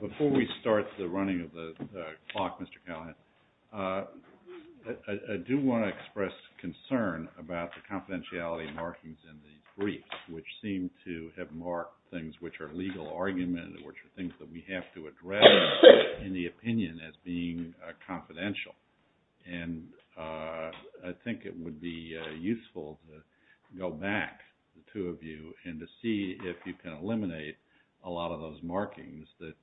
Before we start the running of the clock, Mr. Callahan, I do want to express concern about the confidentiality markings in the briefs, which seem to have marked things which are legal argument and which are things that we have to address in the opinion as being confidential. And I think it would be useful to go back, the two of you, and to see if you can eliminate a lot of those markings that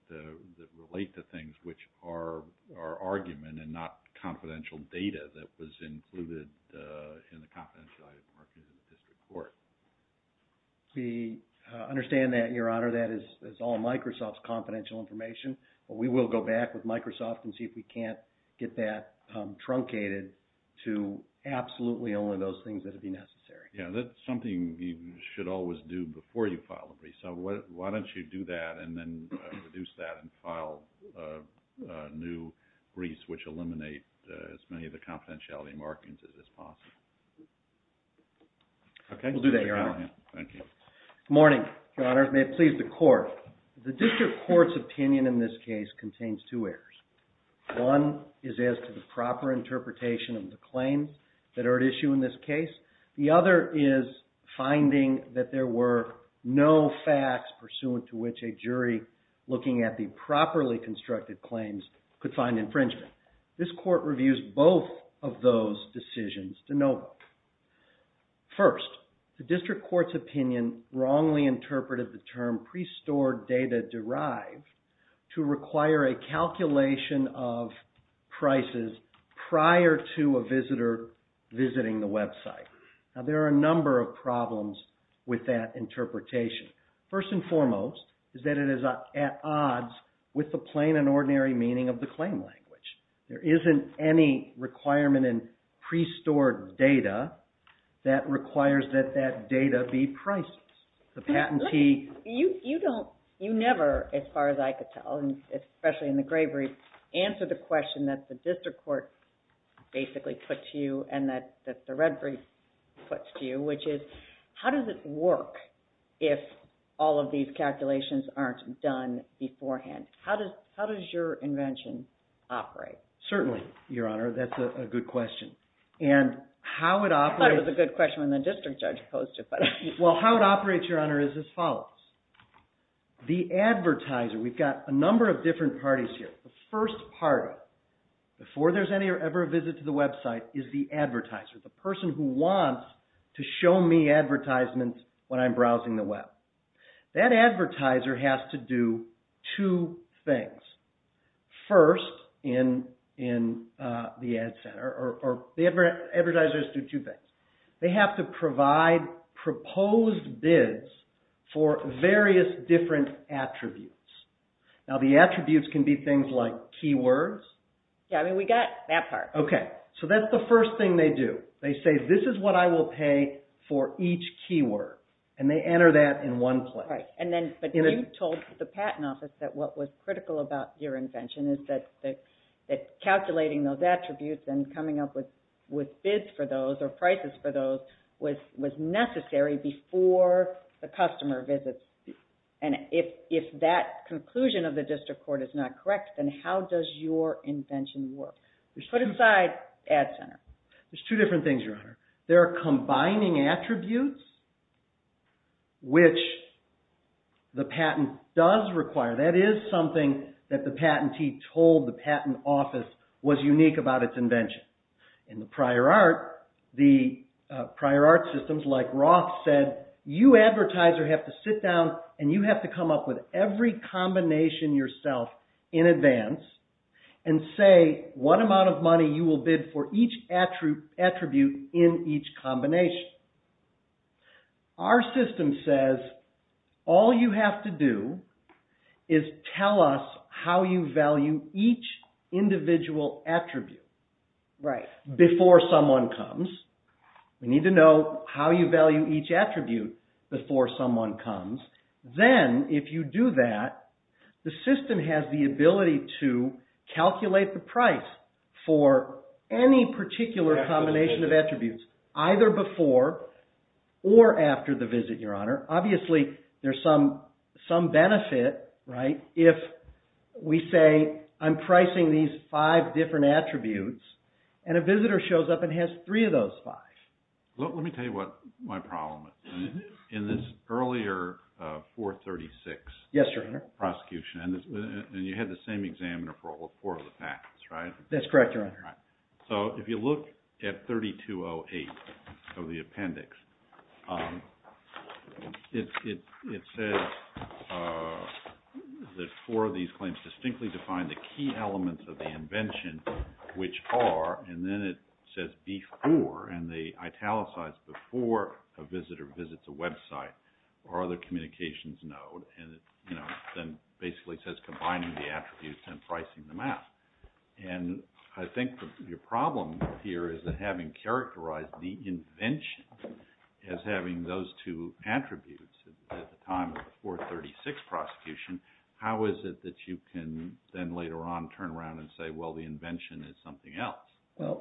relate to things which are argument and not confidential data that was included in the confidentiality markings in this report. MR. CALLAHAN We understand that, Your Honor. That is all Microsoft's confidential information. But we will go back with Microsoft and see if we can't get that truncated to absolutely only those things that would be necessary. MR. STEINWALD Yeah, that's something you should always do before you file a brief. So why don't you do that and then reduce that and file new briefs which eliminate as many of the confidentiality markings as is possible. MR. CALLAHAN Okay. MR. STEINWALD We'll do that, Your Honor. MR. STEINWALD Thank you. MR. CALLAHAN Good morning, Your Honor. May it please the Court. The District Court's opinion in this case contains two errors. One is as to the proper interpretation of the claims that are at issue in this case. The other is finding that there were no facts pursuant to which a jury looking at the properly constructed claims could find infringement. This Court reviews both of those decisions to no vote. First, the District Court's opinion wrongly interpreted the term pre-stored data derived to require a calculation of prices prior to a visitor visiting the website. Now there are a number of problems with that interpretation. First and foremost is that it is at odds with the plain and ordinary meaning of the claim language. There isn't any requirement in pre-stored data that requires that that data be priced in advance. The patentee... MS. STEINWALD You don't, you never, as far as I could tell, and especially in the Grave Reef, answer the question that the District Court basically put to you and that the Red Reef puts to you, which is how does it work if all of these calculations aren't done beforehand? How does your invention operate? MR. CALLAHAN Certainly, Your Honor. That's a good question. And how it operates... MS. STEINWALD I thought it was a good question when the District Judge posed it. MR. CALLAHAN Well, how it operates, Your Honor, is as follows. The advertiser, we've got a number of different parties here. The first part of it, before there's any or ever a visit to the website, is the advertiser, the person who wants to show me advertisements when I'm browsing the web. That advertiser has to do two things. First, in the Ad Center, or the advertisers do two things. They have to provide proposed bids for various different attributes. Now, the attributes can be things like keywords. MS. STEINWALD Yeah, I mean, we got that part. MR. CALLAHAN Okay. So that's the first thing they do. They say, this is what I will pay for each keyword. And they enter that in one place. MS. STEINWALD Right. And then, but you told the Patent Office that what was critical about your invention is that calculating those attributes and coming up with bids for those or prices for those was necessary before the customer visits. And if that conclusion of the District Court is not correct, then how does your invention work? Put aside Ad Center. MR. CALLAHAN There's two different things, Your Honor. There are combining attributes, which the patent does require. That is something that the patentee told the Patent Office was unique about its invention. In the prior art, the prior art systems, like Roth said, you advertiser have to sit down and you have to come up with every combination yourself in advance and say what amount of money you will bid for each attribute in each combination. Which our system says, all you have to do is tell us how you value each individual attribute before someone comes. We need to know how you value each attribute before someone comes. Then if you do that, the system has the ability to calculate the price for any particular combination of attributes, either before or after the visit, Your Honor. Obviously, there's some benefit, right, if we say I'm pricing these five different attributes and a visitor shows up and has three of those five. MR. STEINWALD Let me tell you what my problem is. In this earlier 436 prosecution, and you had the same examiner for all four of the patents, right? MR. CALLAHAN That's correct, Your Honor. MR. STEINWALD So if you look at 3208 of the appendix, it says that four of these claims distinctly define the key elements of the invention, which are, and then it says before, and they italicize before a visitor visits a website or other communications node, and then basically says combining the attributes and pricing them out. And I think your problem here is that having characterized the invention as having those two attributes at the time of the 436 prosecution, how is it that you can then later on turn around and say, well, the invention is something else? MR. CALLAHAN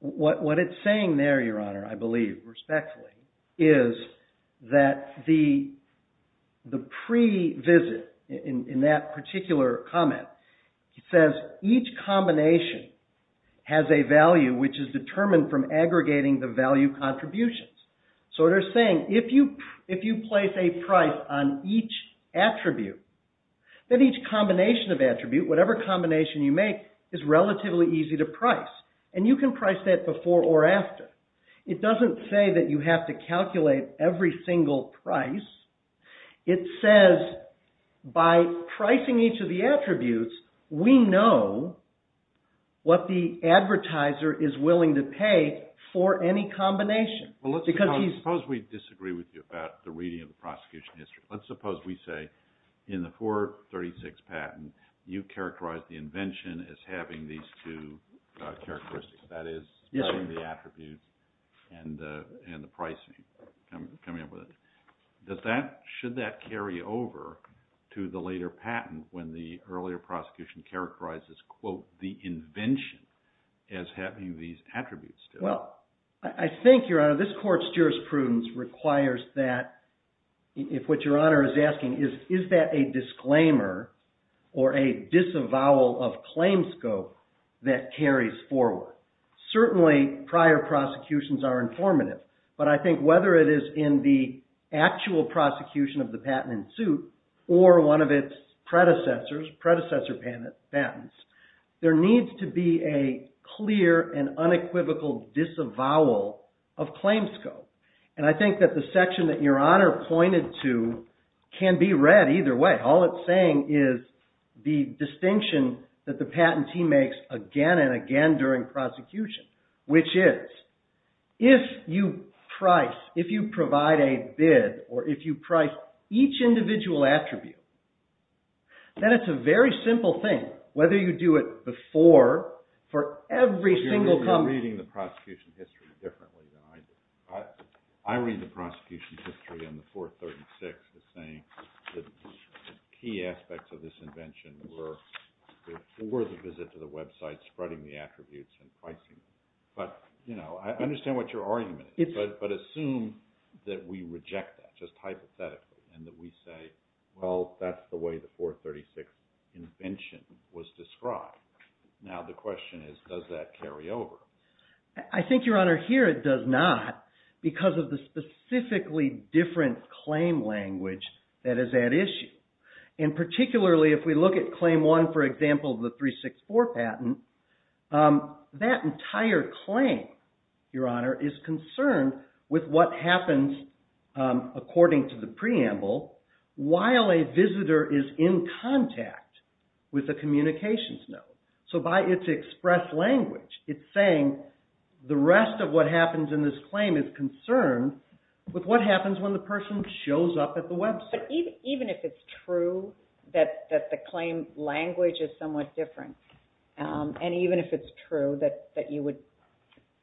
Well, what it's saying there, Your Honor, I believe, respectfully, is that the pre-visit, in that particular comment, it says each combination has a value which is determined from aggregating the value contributions. So they're saying if you place a price on each attribute, then each combination of attribute, whatever combination you make, is relatively easy to price. And you can price that before or after. It doesn't say that you have to price. It says by pricing each of the attributes, we know what the advertiser is willing to pay for any combination. JUDGE McANANY Well, let's suppose we disagree with you about the reading of the prosecution history. Let's suppose we say in the 436 patent, you characterized the invention as having these two characteristics, that is, the attribute and the pricing. Can I come in with that? Should that carry over to the later patent when the earlier prosecution characterized as, quote, the invention, as having these attributes? MR. CALLAHAN Well, I think, Your Honor, this Court's jurisprudence requires that if what Your Honor is asking is, is that a disclaimer or a disavowal of claims scope that carries forward. Certainly, prior prosecutions are informative, but I think whether it is in the actual prosecution of the patent in suit or one of its predecessors, predecessor patents, there needs to be a clear and unequivocal disavowal of claims scope. And I think that the section that Your Honor pointed to can be read either way. All it's saying is the same during prosecution, which is, if you price, if you provide a bid, or if you price each individual attribute, then it's a very simple thing, whether you do it before for MR. STEINWALD You're reading the prosecution history differently than I do. I read the prosecution history in the 436 as saying that the key aspects of this invention were, before the visit to the website, spreading the attributes and pricing them. But, you know, I understand what your argument is, but assume that we reject that, just hypothetically, and that we say, well, that's the way the 436 invention was described. Now, the question is, does that carry over? MR. CALLAHAN I think, Your Honor, here it does not because of the specifically different claim language that is at issue. And particularly if we look at claim one, for example, the 364 patent, that entire claim, Your Honor, is concerned with what happens, according to the preamble, while a visitor is in contact with a communications node. So by its express language, it's saying the rest of what happens in this claim is concerned with what happens when the person shows up at the website. Even if it's true that the claim language is somewhat different, and even if it's true that you would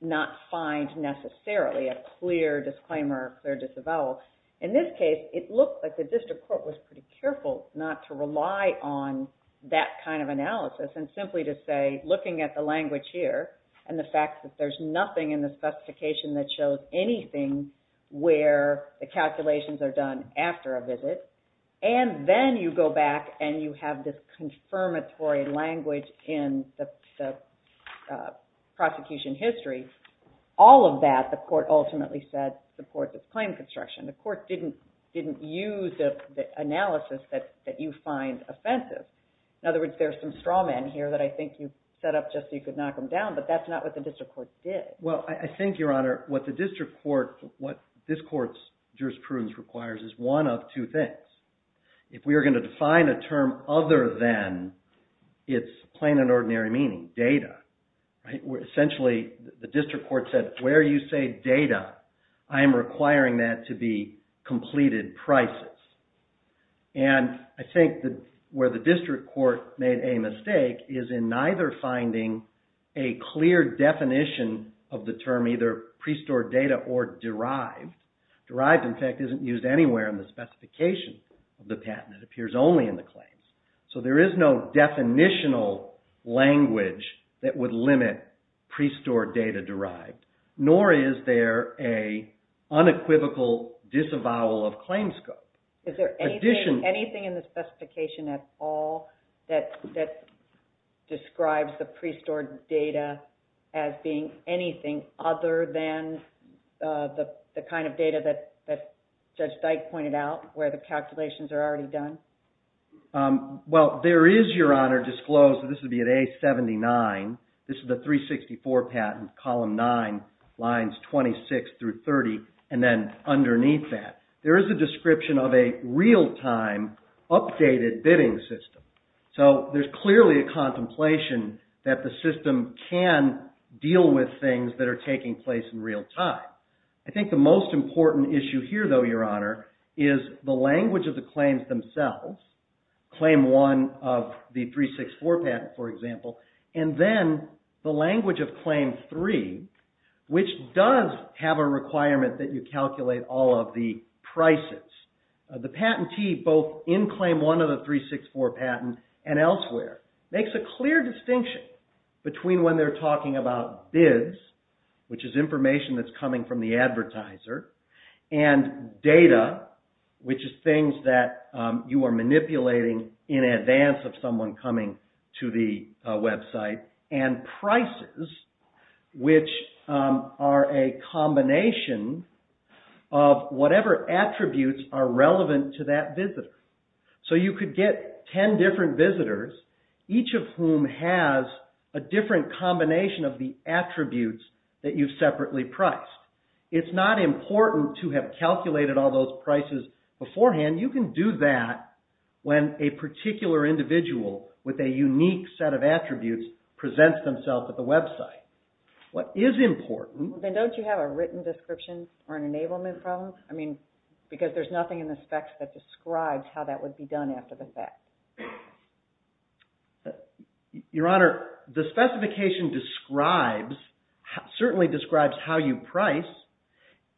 not find, necessarily, a clear disclaimer or clear disavowal, in this case, it looked like the district court was pretty careful not to rely on that kind of analysis and simply to say, looking at the language here and the fact that there's nothing in there that's going to deter a visit, and then you go back and you have this confirmatory language in the prosecution history, all of that, the court ultimately said, supports its claim construction. The court didn't use the analysis that you find offensive. In other words, there's some straw men here that I think you've set up just so you could knock them down, but that's not what the district court did. MR. GOLDSTEIN Well, I think, Your Honor, what the district court, what this court's jurisprudence requires is one of two things. If we are going to define a term other than its plain and ordinary meaning, data, essentially, the district court said, where you say data, I am requiring that to be completed prices. And I think where the district court made a mistake is in neither finding a clear definition of the term, either pre-stored data or derived. Derived, in fact, isn't used anywhere in the specification of the patent. It appears only in the claims. So there is no definitional language that would limit pre-stored data derived, nor is there an unequivocal disavowal of claim scope. MS. MOSS Is there anything in the specification at all that describes the pre-stored data as being anything other than the kind of data that Judge Dyke pointed out, where the calculations are already done? MR. GOLDSTEIN Well, there is, Your Honor, disclosed, this would be at A-79, this is the 364 patent, column 9, lines 26 through 30, and then underneath that, there is a description of a real-time updated bidding system. So there's clearly a contemplation that the system can deal with things that are taking place in real-time. I think the most important issue here, though, Your Honor, is the language of the claims themselves, claim 1 of the 364 patent, for example, and then the language of claim 3, which does have a requirement that you calculate all of the prices. The patentee, both in claim 1 of the 364 patent and elsewhere, makes a clear distinction between when they're talking about bids, which is information that's coming from the advertiser, and data, which is things that you are manipulating in advance of someone coming to the website, and prices, which are a combination of whatever attributes are relevant to that visitor. So you could get 10 different visitors, each of whom has a different combination of the attributes that you've separately priced. It's not important to have calculated all those prices beforehand. You can do that when a particular individual with a unique set of attributes presents themselves at the website. What is important... I mean, because there's nothing in the specs that describes how that would be done after the fact. Your Honor, the specification describes, certainly describes how you price.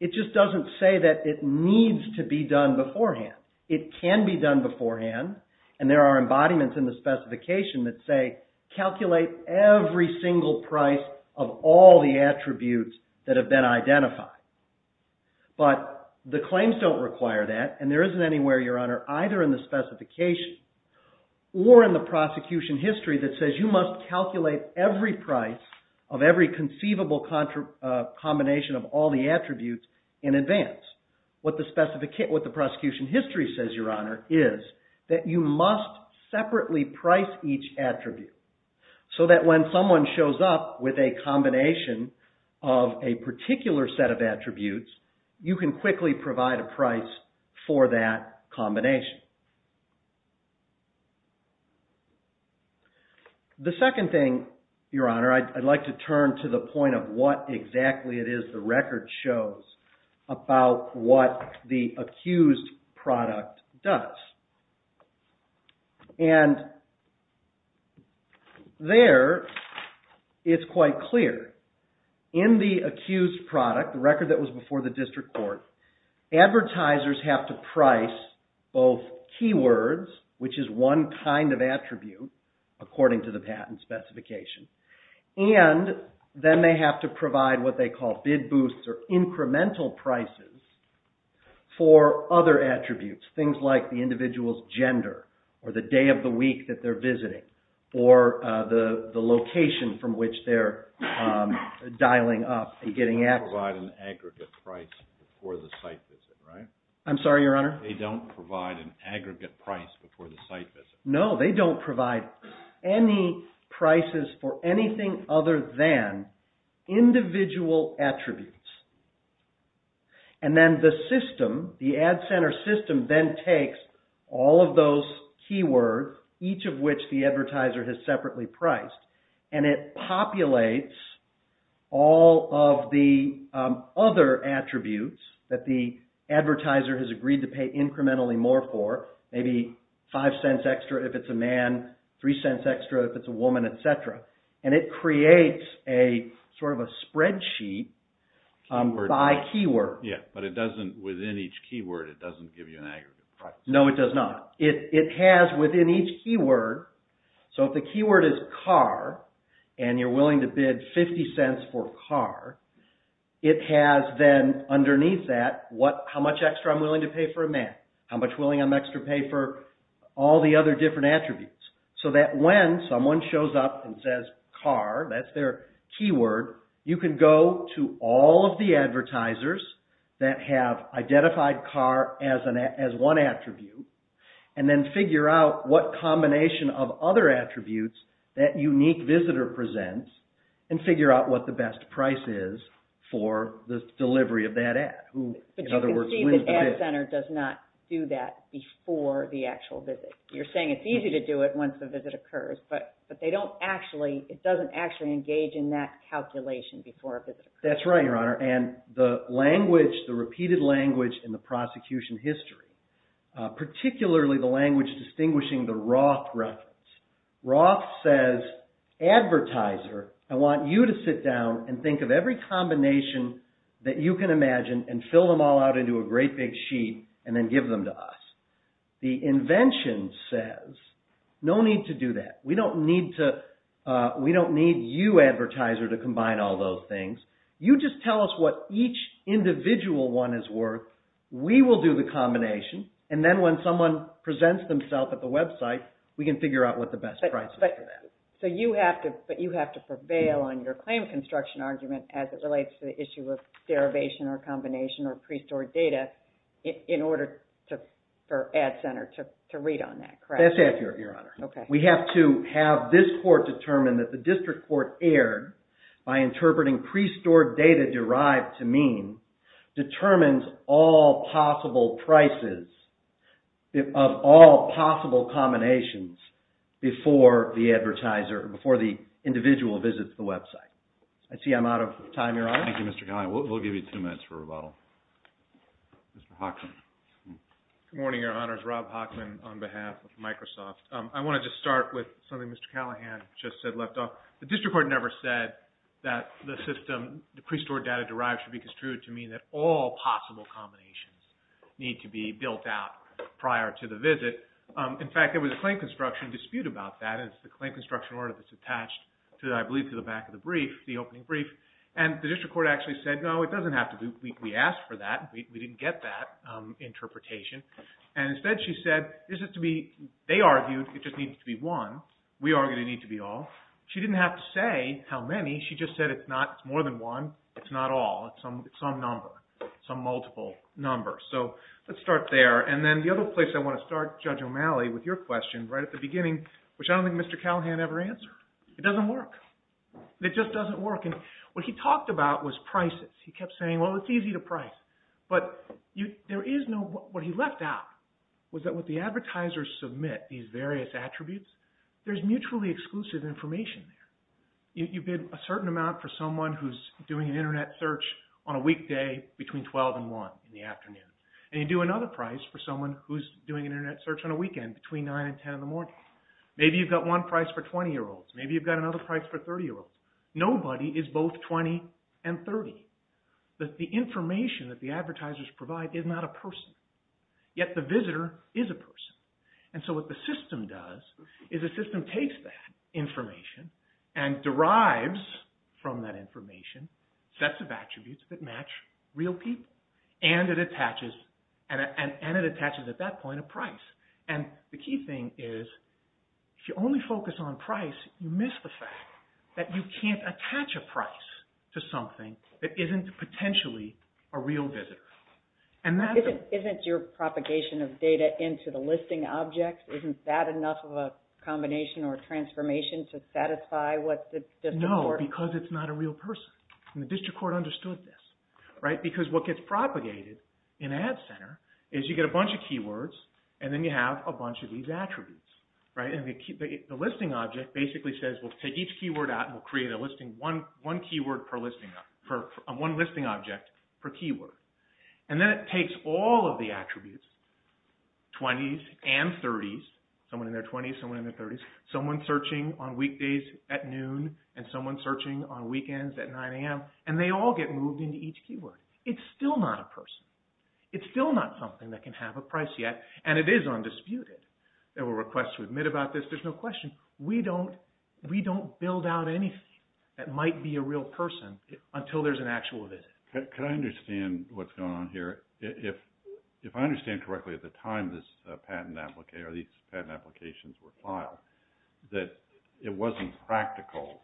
It just doesn't say that it needs to be done beforehand. It can be done beforehand, and there are embodiments in the specification that say, calculate every single price of all the attributes that have been identified. But the claims don't require that, and there isn't anywhere, Your Honor, either in the specification or in the prosecution history that says you must calculate every price of every conceivable combination of all the attributes in advance. What the prosecution history says, Your Honor, is that you must separately price each attribute, so that when someone shows up with a combination of a particular set of attributes, you can quickly provide a price for that combination. The second thing, Your Honor, I'd like to turn to the point of what exactly it is the record shows about what the accused product does. And there, it's quite clear. In the accused product, the record that was before the district court, advertisers have to price both keywords, which is one kind of attribute, according to the patent specification, and then they have to provide what they call bid boosts or incremental prices for other attributes, things like the individual's gender, or the day of the week that they're visiting, or the location from which they're dialing up and getting access. They don't provide an aggregate price before the site visit, right? I'm sorry, Your Honor? They don't provide an aggregate price before the site visit. No, they don't provide any prices for anything other than individual attributes. And then the system, the Ad Center system then takes all of those keywords, each of which the advertiser has separately priced, and it populates all of the other attributes that the advertiser has agreed to pay incrementally more for, maybe five cents extra if it's a man, three cents extra if it's a woman, et cetera. And it creates a sort of a spreadsheet by keyword. Yeah, but it doesn't, within each keyword, it doesn't give you an aggregate price. No, it does not. It has within each keyword, so if the keyword is car, and you're willing to bid 50 cents for car, it has then underneath that how much extra I'm willing to pay for a man, how much willing I'm willing to pay for all the other different attributes, so that when someone shows up and says car, that's their keyword, you can go to all of the advertisers that have identified car as one attribute, and then figure out what combination of other attributes that unique visitor presents, and figure out what the best price is for the delivery of that ad, who, in other words, wins the bid. But you can see the Ad Center does not do that before the actual visit. You're saying it's easy to do it once the visit occurs, but they don't actually, it doesn't actually engage in that calculation before a visit occurs. That's right, Your Honor, and the language, the repeated language in the prosecution history, particularly the language distinguishing the Roth reference. Roth says, Advertiser, I want you to sit down and think of every combination that you can imagine and fill them all out into a great big sheet, and then give them to us. The invention says, no need to do that. We don't need to, we don't need you, Advertiser, to combine all those things. You just tell us what each individual one is worth. We will do the combination, and then when someone presents themselves at the website, we can figure out what the best price is for that. So you have to, but you have to prevail on your claim construction argument as it relates to the issue of derivation or combination or pre-stored data in order for Adcenter to read on that, correct? That's it, Your Honor. Okay. We have to have this court determine that the district court erred by interpreting pre-stored data derived to mean determines all possible prices of all possible combinations before the advertiser, before the individual visits the website. I see I'm out of time, Your Honor. Thank you, Mr. Callahan. We'll give you two minutes for rebuttal. Mr. Hockman. Good morning, Your Honor. It's Rob Hockman on behalf of Microsoft. I want to just start with something Mr. Callahan just said left off. The district court never said that the system, the pre-stored data derived should be construed to mean that all possible combinations need to be built out prior to the visit. In fact, there was a claim construction dispute about that, and it's the claim construction order that's attached to, I believe, to the back of the brief. The opening brief. The district court actually said, no, it doesn't have to be. We asked for that. We didn't get that interpretation. Instead, she said, they argued it just needs to be one. We argued it needs to be all. She didn't have to say how many. She just said it's not more than one. It's not all. It's some number. Some multiple number. Let's start there. Then the other place I want to start, Judge O'Malley, with your question right at the It doesn't work. It doesn't work. It doesn't work. It doesn't work. It doesn't work. It doesn't work. What he talked about was prices. He kept saying, well, it's easy to price, but what he left out was that with the advertisers submit these various attributes, there's mutually exclusive information there. You bid a certain amount for someone who's doing an Internet search on a weekday between 12 and 1 in the afternoon, and you do another price for someone who's doing an Internet search on a weekend between 9 and 10 in the morning. Maybe you've got one price for 20-year-olds. Maybe you've got another price for 30-year-olds. Nobody is both 20 and 30. The information that the advertisers provide is not a person, yet the visitor is a person. What the system does is the system takes that information and derives from that information sets of attributes that match real people, and it attaches at that point a price. The key thing is, if you only focus on price, you miss the fact that you can't attach a price to something that isn't potentially a real visitor. Isn't your propagation of data into the listing objects, isn't that enough of a combination or transformation to satisfy what the district court... No, because it's not a real person. The district court understood this. Because what gets propagated in Ad Center is you get a bunch of keywords, and then you have a bunch of these attributes. The listing object basically says, we'll take each keyword out and we'll create one listing object per keyword. Then it takes all of the attributes, 20s and 30s, someone in their 20s, someone in their 30s, someone searching on weekdays at noon, and someone searching on weekends at 9 a.m., and they all get moved into each keyword. It's still not a person. It's still not something that can have a price yet, and it is undisputed. There were requests to admit about this, there's no question. We don't build out anything that might be a real person until there's an actual visit. Could I understand what's going on here? If I understand correctly, at the time these patent applications were filed, that it wasn't practical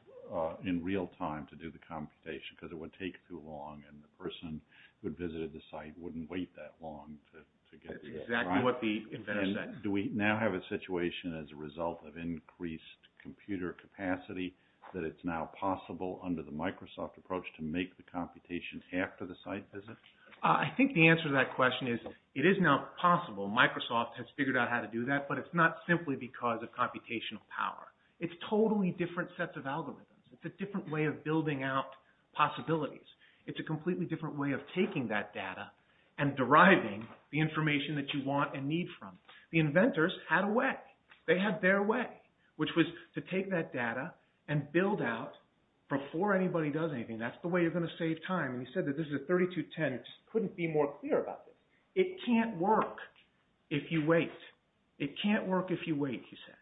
in real time to do the computation, because it would take too long and the person who visited the site wouldn't wait that long to get to the client. That's exactly what the inventor said. Do we now have a situation as a result of increased computer capacity that it's now possible under the Microsoft approach to make the computation after the site visit? I think the answer to that question is it is now possible. Microsoft has figured out how to do that, but it's not simply because of computational power. It's totally different sets of algorithms. It's a different way of building out possibilities. It's a completely different way of taking that data and deriving the information that you want and need from it. The inventors had a way. They had their way, which was to take that data and build out before anybody does anything. That's the way you're going to save time, and he said that this is a 3210. It just couldn't be more clear about this. It can't work if you wait. It can't work if you wait, he said.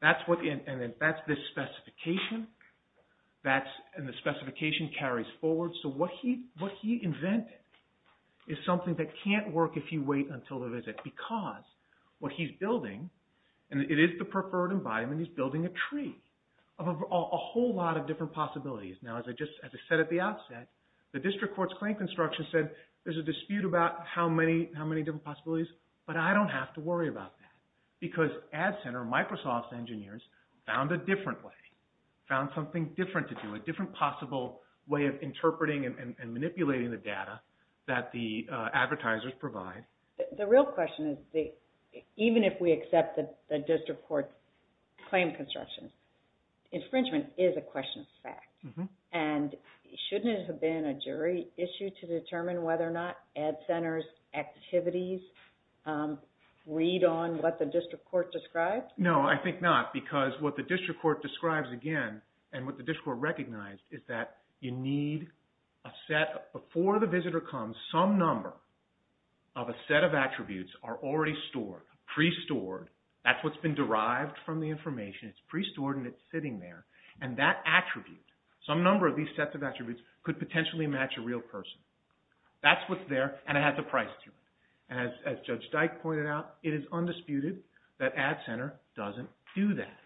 That's this specification, and the specification carries forward. So, what he invented is something that can't work if you wait until the visit because what he's building, and it is the preferred environment, he's building a tree of a whole lot of different possibilities. Now, as I said at the outset, the district court's claim construction said there's a dispute about how many different possibilities, but I don't have to worry about that because Ad Center, Microsoft's engineers, found a different way, found something different to do, a different possible way of interpreting and manipulating the data that the advertisers provide. The real question is even if we accept the district court's claim construction, infringement is a question of fact, and shouldn't it have been a jury issue to determine whether or not Ad Center's activities read on what the district court described? No, I think not because what the district court describes again and what the district court recognized is that you need a set, before the visitor comes, some number of a set of attributes are already stored, pre-stored. That's what's been derived from the information. It's pre-stored and it's sitting there, and that attribute, some number of these sets of attributes could potentially match a real person. That's what's there and it has a price to it. As Judge Dyke pointed out, it is undisputed that Ad Center doesn't do that.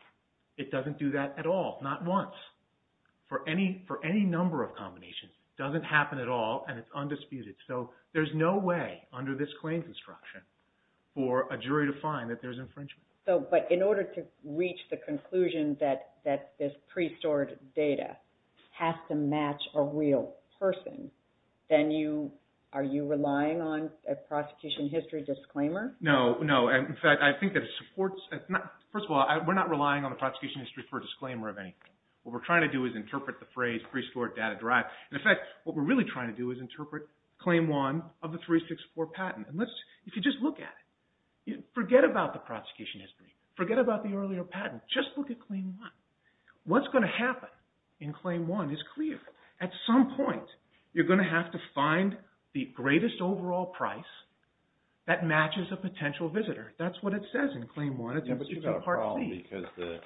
It doesn't do that at all, not once. For any number of combinations, it doesn't happen at all and it's undisputed, so there's no way under this claim construction for a jury to find that there's infringement. But in order to reach the conclusion that this pre-stored data has to match a real person, then are you relying on a prosecution history disclaimer? No, no. In fact, I think that it supports, first of all, we're not relying on a prosecution history for a disclaimer of anything. What we're trying to do is interpret the phrase pre-stored data derived. In fact, what we're really trying to do is interpret Claim 1 of the 364 patent. If you just look at it, forget about the prosecution history, forget about the earlier patent, just look at Claim 1. What's going to happen in Claim 1 is clear. At some point, you're going to have to find the greatest overall price that matches a potential visitor. That's what it says in Claim 1. But you've got a problem because the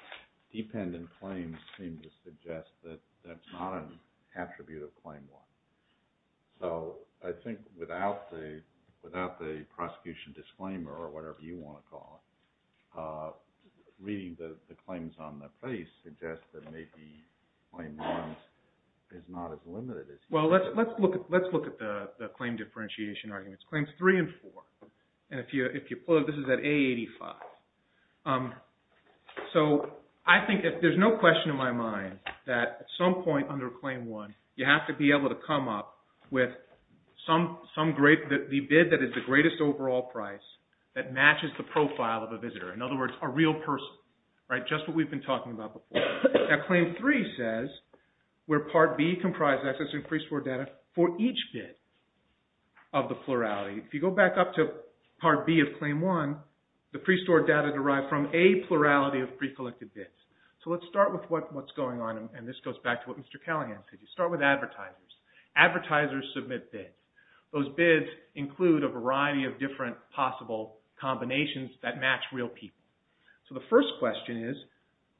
dependent claims seem to suggest that that's not an attribute of Claim 1. So I think without the prosecution disclaimer or whatever you want to call it, reading the Well, let's look at the claim differentiation arguments, Claims 3 and 4. And if you pull it, this is at A85. So I think if there's no question in my mind that at some point under Claim 1, you have to be able to come up with the bid that is the greatest overall price that matches the profile of a visitor. In other words, a real person, just what we've been talking about before. Now Claim 3 says where Part B comprises access to pre-stored data for each bid of the plurality. If you go back up to Part B of Claim 1, the pre-stored data derived from A plurality of pre-collected bids. So let's start with what's going on. And this goes back to what Mr. Callahan said. You start with advertisers. Advertisers submit bids. Those bids include a variety of different possible combinations that match real people. So the first question is,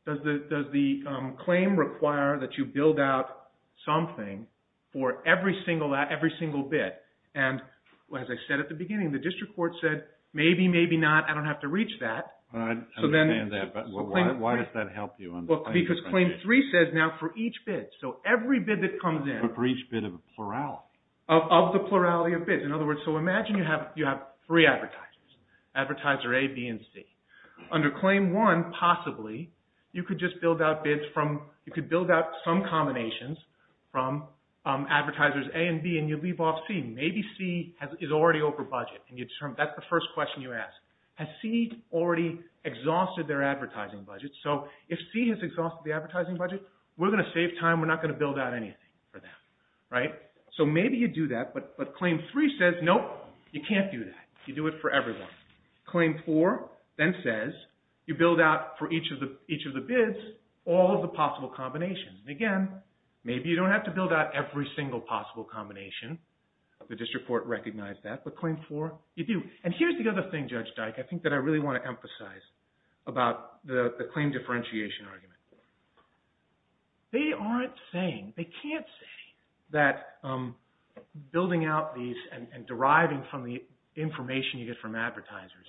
does the claim require that you build out something for every single bid? And as I said at the beginning, the district court said, maybe, maybe not, I don't have to reach that. I understand that, but why does that help you? Because Claim 3 says now for each bid. So every bid that comes in. Of the plurality of bids. In other words, so imagine you have three advertisers. Advertiser A, B, and C. Under Claim 1, possibly, you could just build out bids from, you could build out some combinations from Advertisers A and B and you leave off C. Maybe C is already over budget. And that's the first question you ask. Has C already exhausted their advertising budget? So if C has exhausted the advertising budget, we're going to save time. We're not going to build out anything for them. Right? So maybe you do that, but Claim 3 says, nope, you can't do that. You do it for everyone. Claim 4 then says, you build out for each of the bids, all of the possible combinations. And again, maybe you don't have to build out every single possible combination. The district court recognized that, but Claim 4, you do. And here's the other thing, Judge Dyke, I think that I really want to emphasize about the claim differentiation argument. They aren't saying, they can't say that building out these and deriving from the information you get from Advertisers,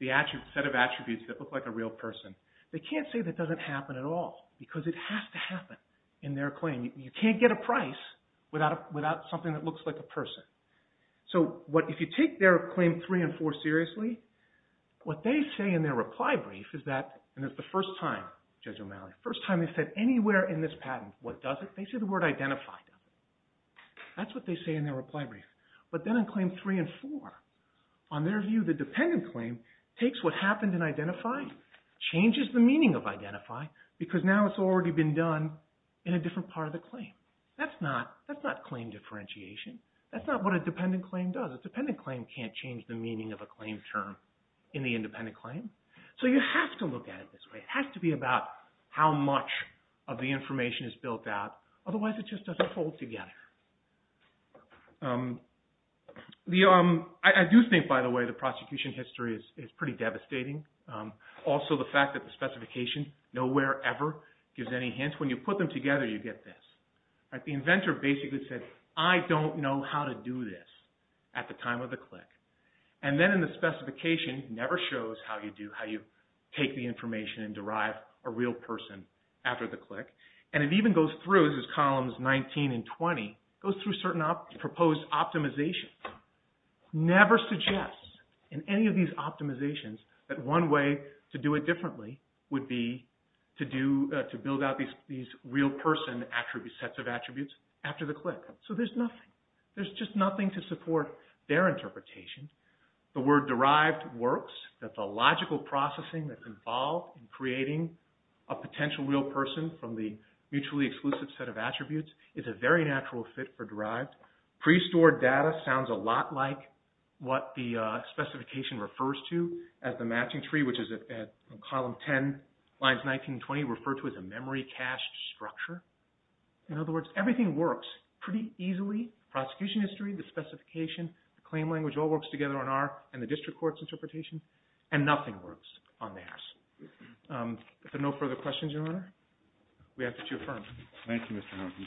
the set of attributes that look like a real person, they can't say that doesn't happen at all because it has to happen in their claim. You can't get a price without something that looks like a person. So if you take their Claim 3 and 4 seriously, what they say in their reply brief is that, and it's the first time, Judge O'Malley, first time they said anywhere in this patent, what doesn't, they say the word identify doesn't. That's what they say in their reply brief. But then in Claim 3 and 4, on their view, the dependent claim takes what happened in identify, changes the meaning of identify, because now it's already been done in a different part of the claim. That's not claim differentiation. That's not what a dependent claim does. A dependent claim can't change the meaning of a claim term in the independent claim. So you have to look at it this way. It has to be about how much of the information is built out. Otherwise, it just doesn't fold together. I do think, by the way, the prosecution history is pretty devastating. Also, the fact that the specification, nowhere ever gives any hints. When you put them together, you get this. The inventor basically said, I don't know how to do this at the time of the click. Then in the specification, it never shows how you take the information and derive a real person after the click. It even goes through, this is columns 19 and 20, it goes through certain proposed optimizations. It never suggests in any of these optimizations that one way to do it differently would be to build out these real person attributes, sets of attributes, after the click. So there's nothing. There's nothing to support their interpretation. The word derived works. The logical processing that's involved in creating a potential real person from the mutually exclusive set of attributes is a very natural fit for derived. Pre-stored data sounds a lot like what the specification refers to as the matching tree, which is at column 10, lines 19 and 20, referred to as a memory cache structure. In other words, everything works pretty easily. Prosecution history, the specification, the claim language all works together on our and the district court's interpretation, and nothing works on theirs. If there are no further questions, Your Honor, we ask that you affirm. Thank you, Mr. Hamilton.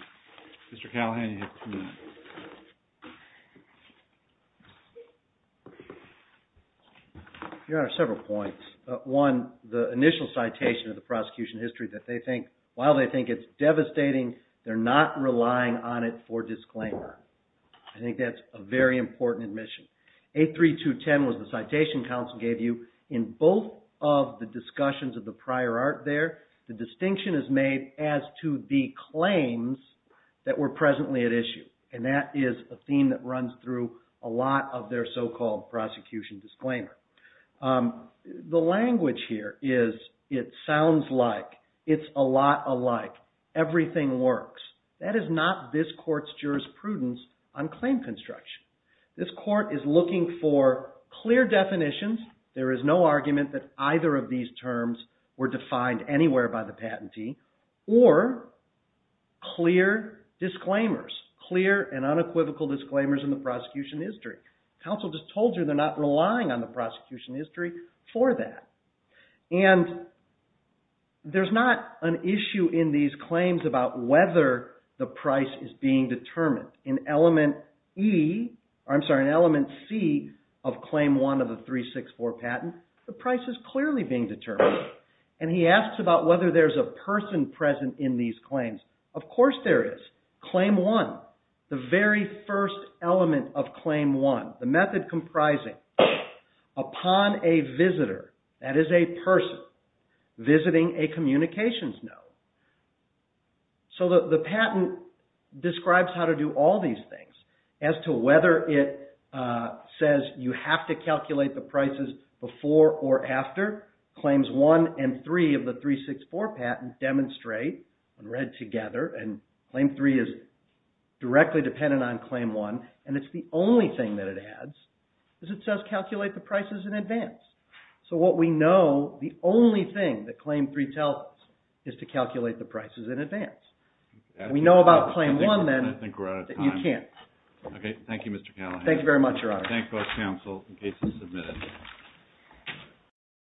Mr. Callahan, you have two minutes. Your Honor, several points. One, the initial citation of the prosecution history that they think, while they think it's devastating, they're not relying on it for disclaimer. I think that's a very important admission. 83210 was the citation counsel gave you. In both of the discussions of the prior art there, the distinction is made as to the claims that were presently at issue, and that is a theme that runs through a lot of their so-called prosecution disclaimer. The language here is, it sounds like, it's a lot alike, everything works. That is not this court's jurisprudence on claim construction. This court is looking for clear definitions. There is no argument that either of these terms were defined anywhere by the patentee, or clear disclaimers, clear and unequivocal disclaimers in the prosecution history. Counsel just told you they're not relying on the prosecution history for that. And there's not an issue in these claims about whether the price is being determined. In element C of claim one of the 364 patent, the price is clearly being determined. And he asks about whether there's a person present in these claims. Of course there is. Claim one, the very first element of claim one, the method comprising upon a visitor, that is a person visiting a communications note. So the patent describes how to do all these things as to whether it says you have to calculate the prices before or after. Claims one and three of the 364 patent demonstrate when read together, and claim three is directly dependent on claim one, and it's the only thing that it adds is it says calculate the prices in advance. So what we know, the only thing that claim three tells us is to calculate the prices in advance. We know about claim one, then, that you can't. Thank you, Mr. Callahan. Thank you very much, Your Honor. Thank both counsel in case it's submitted.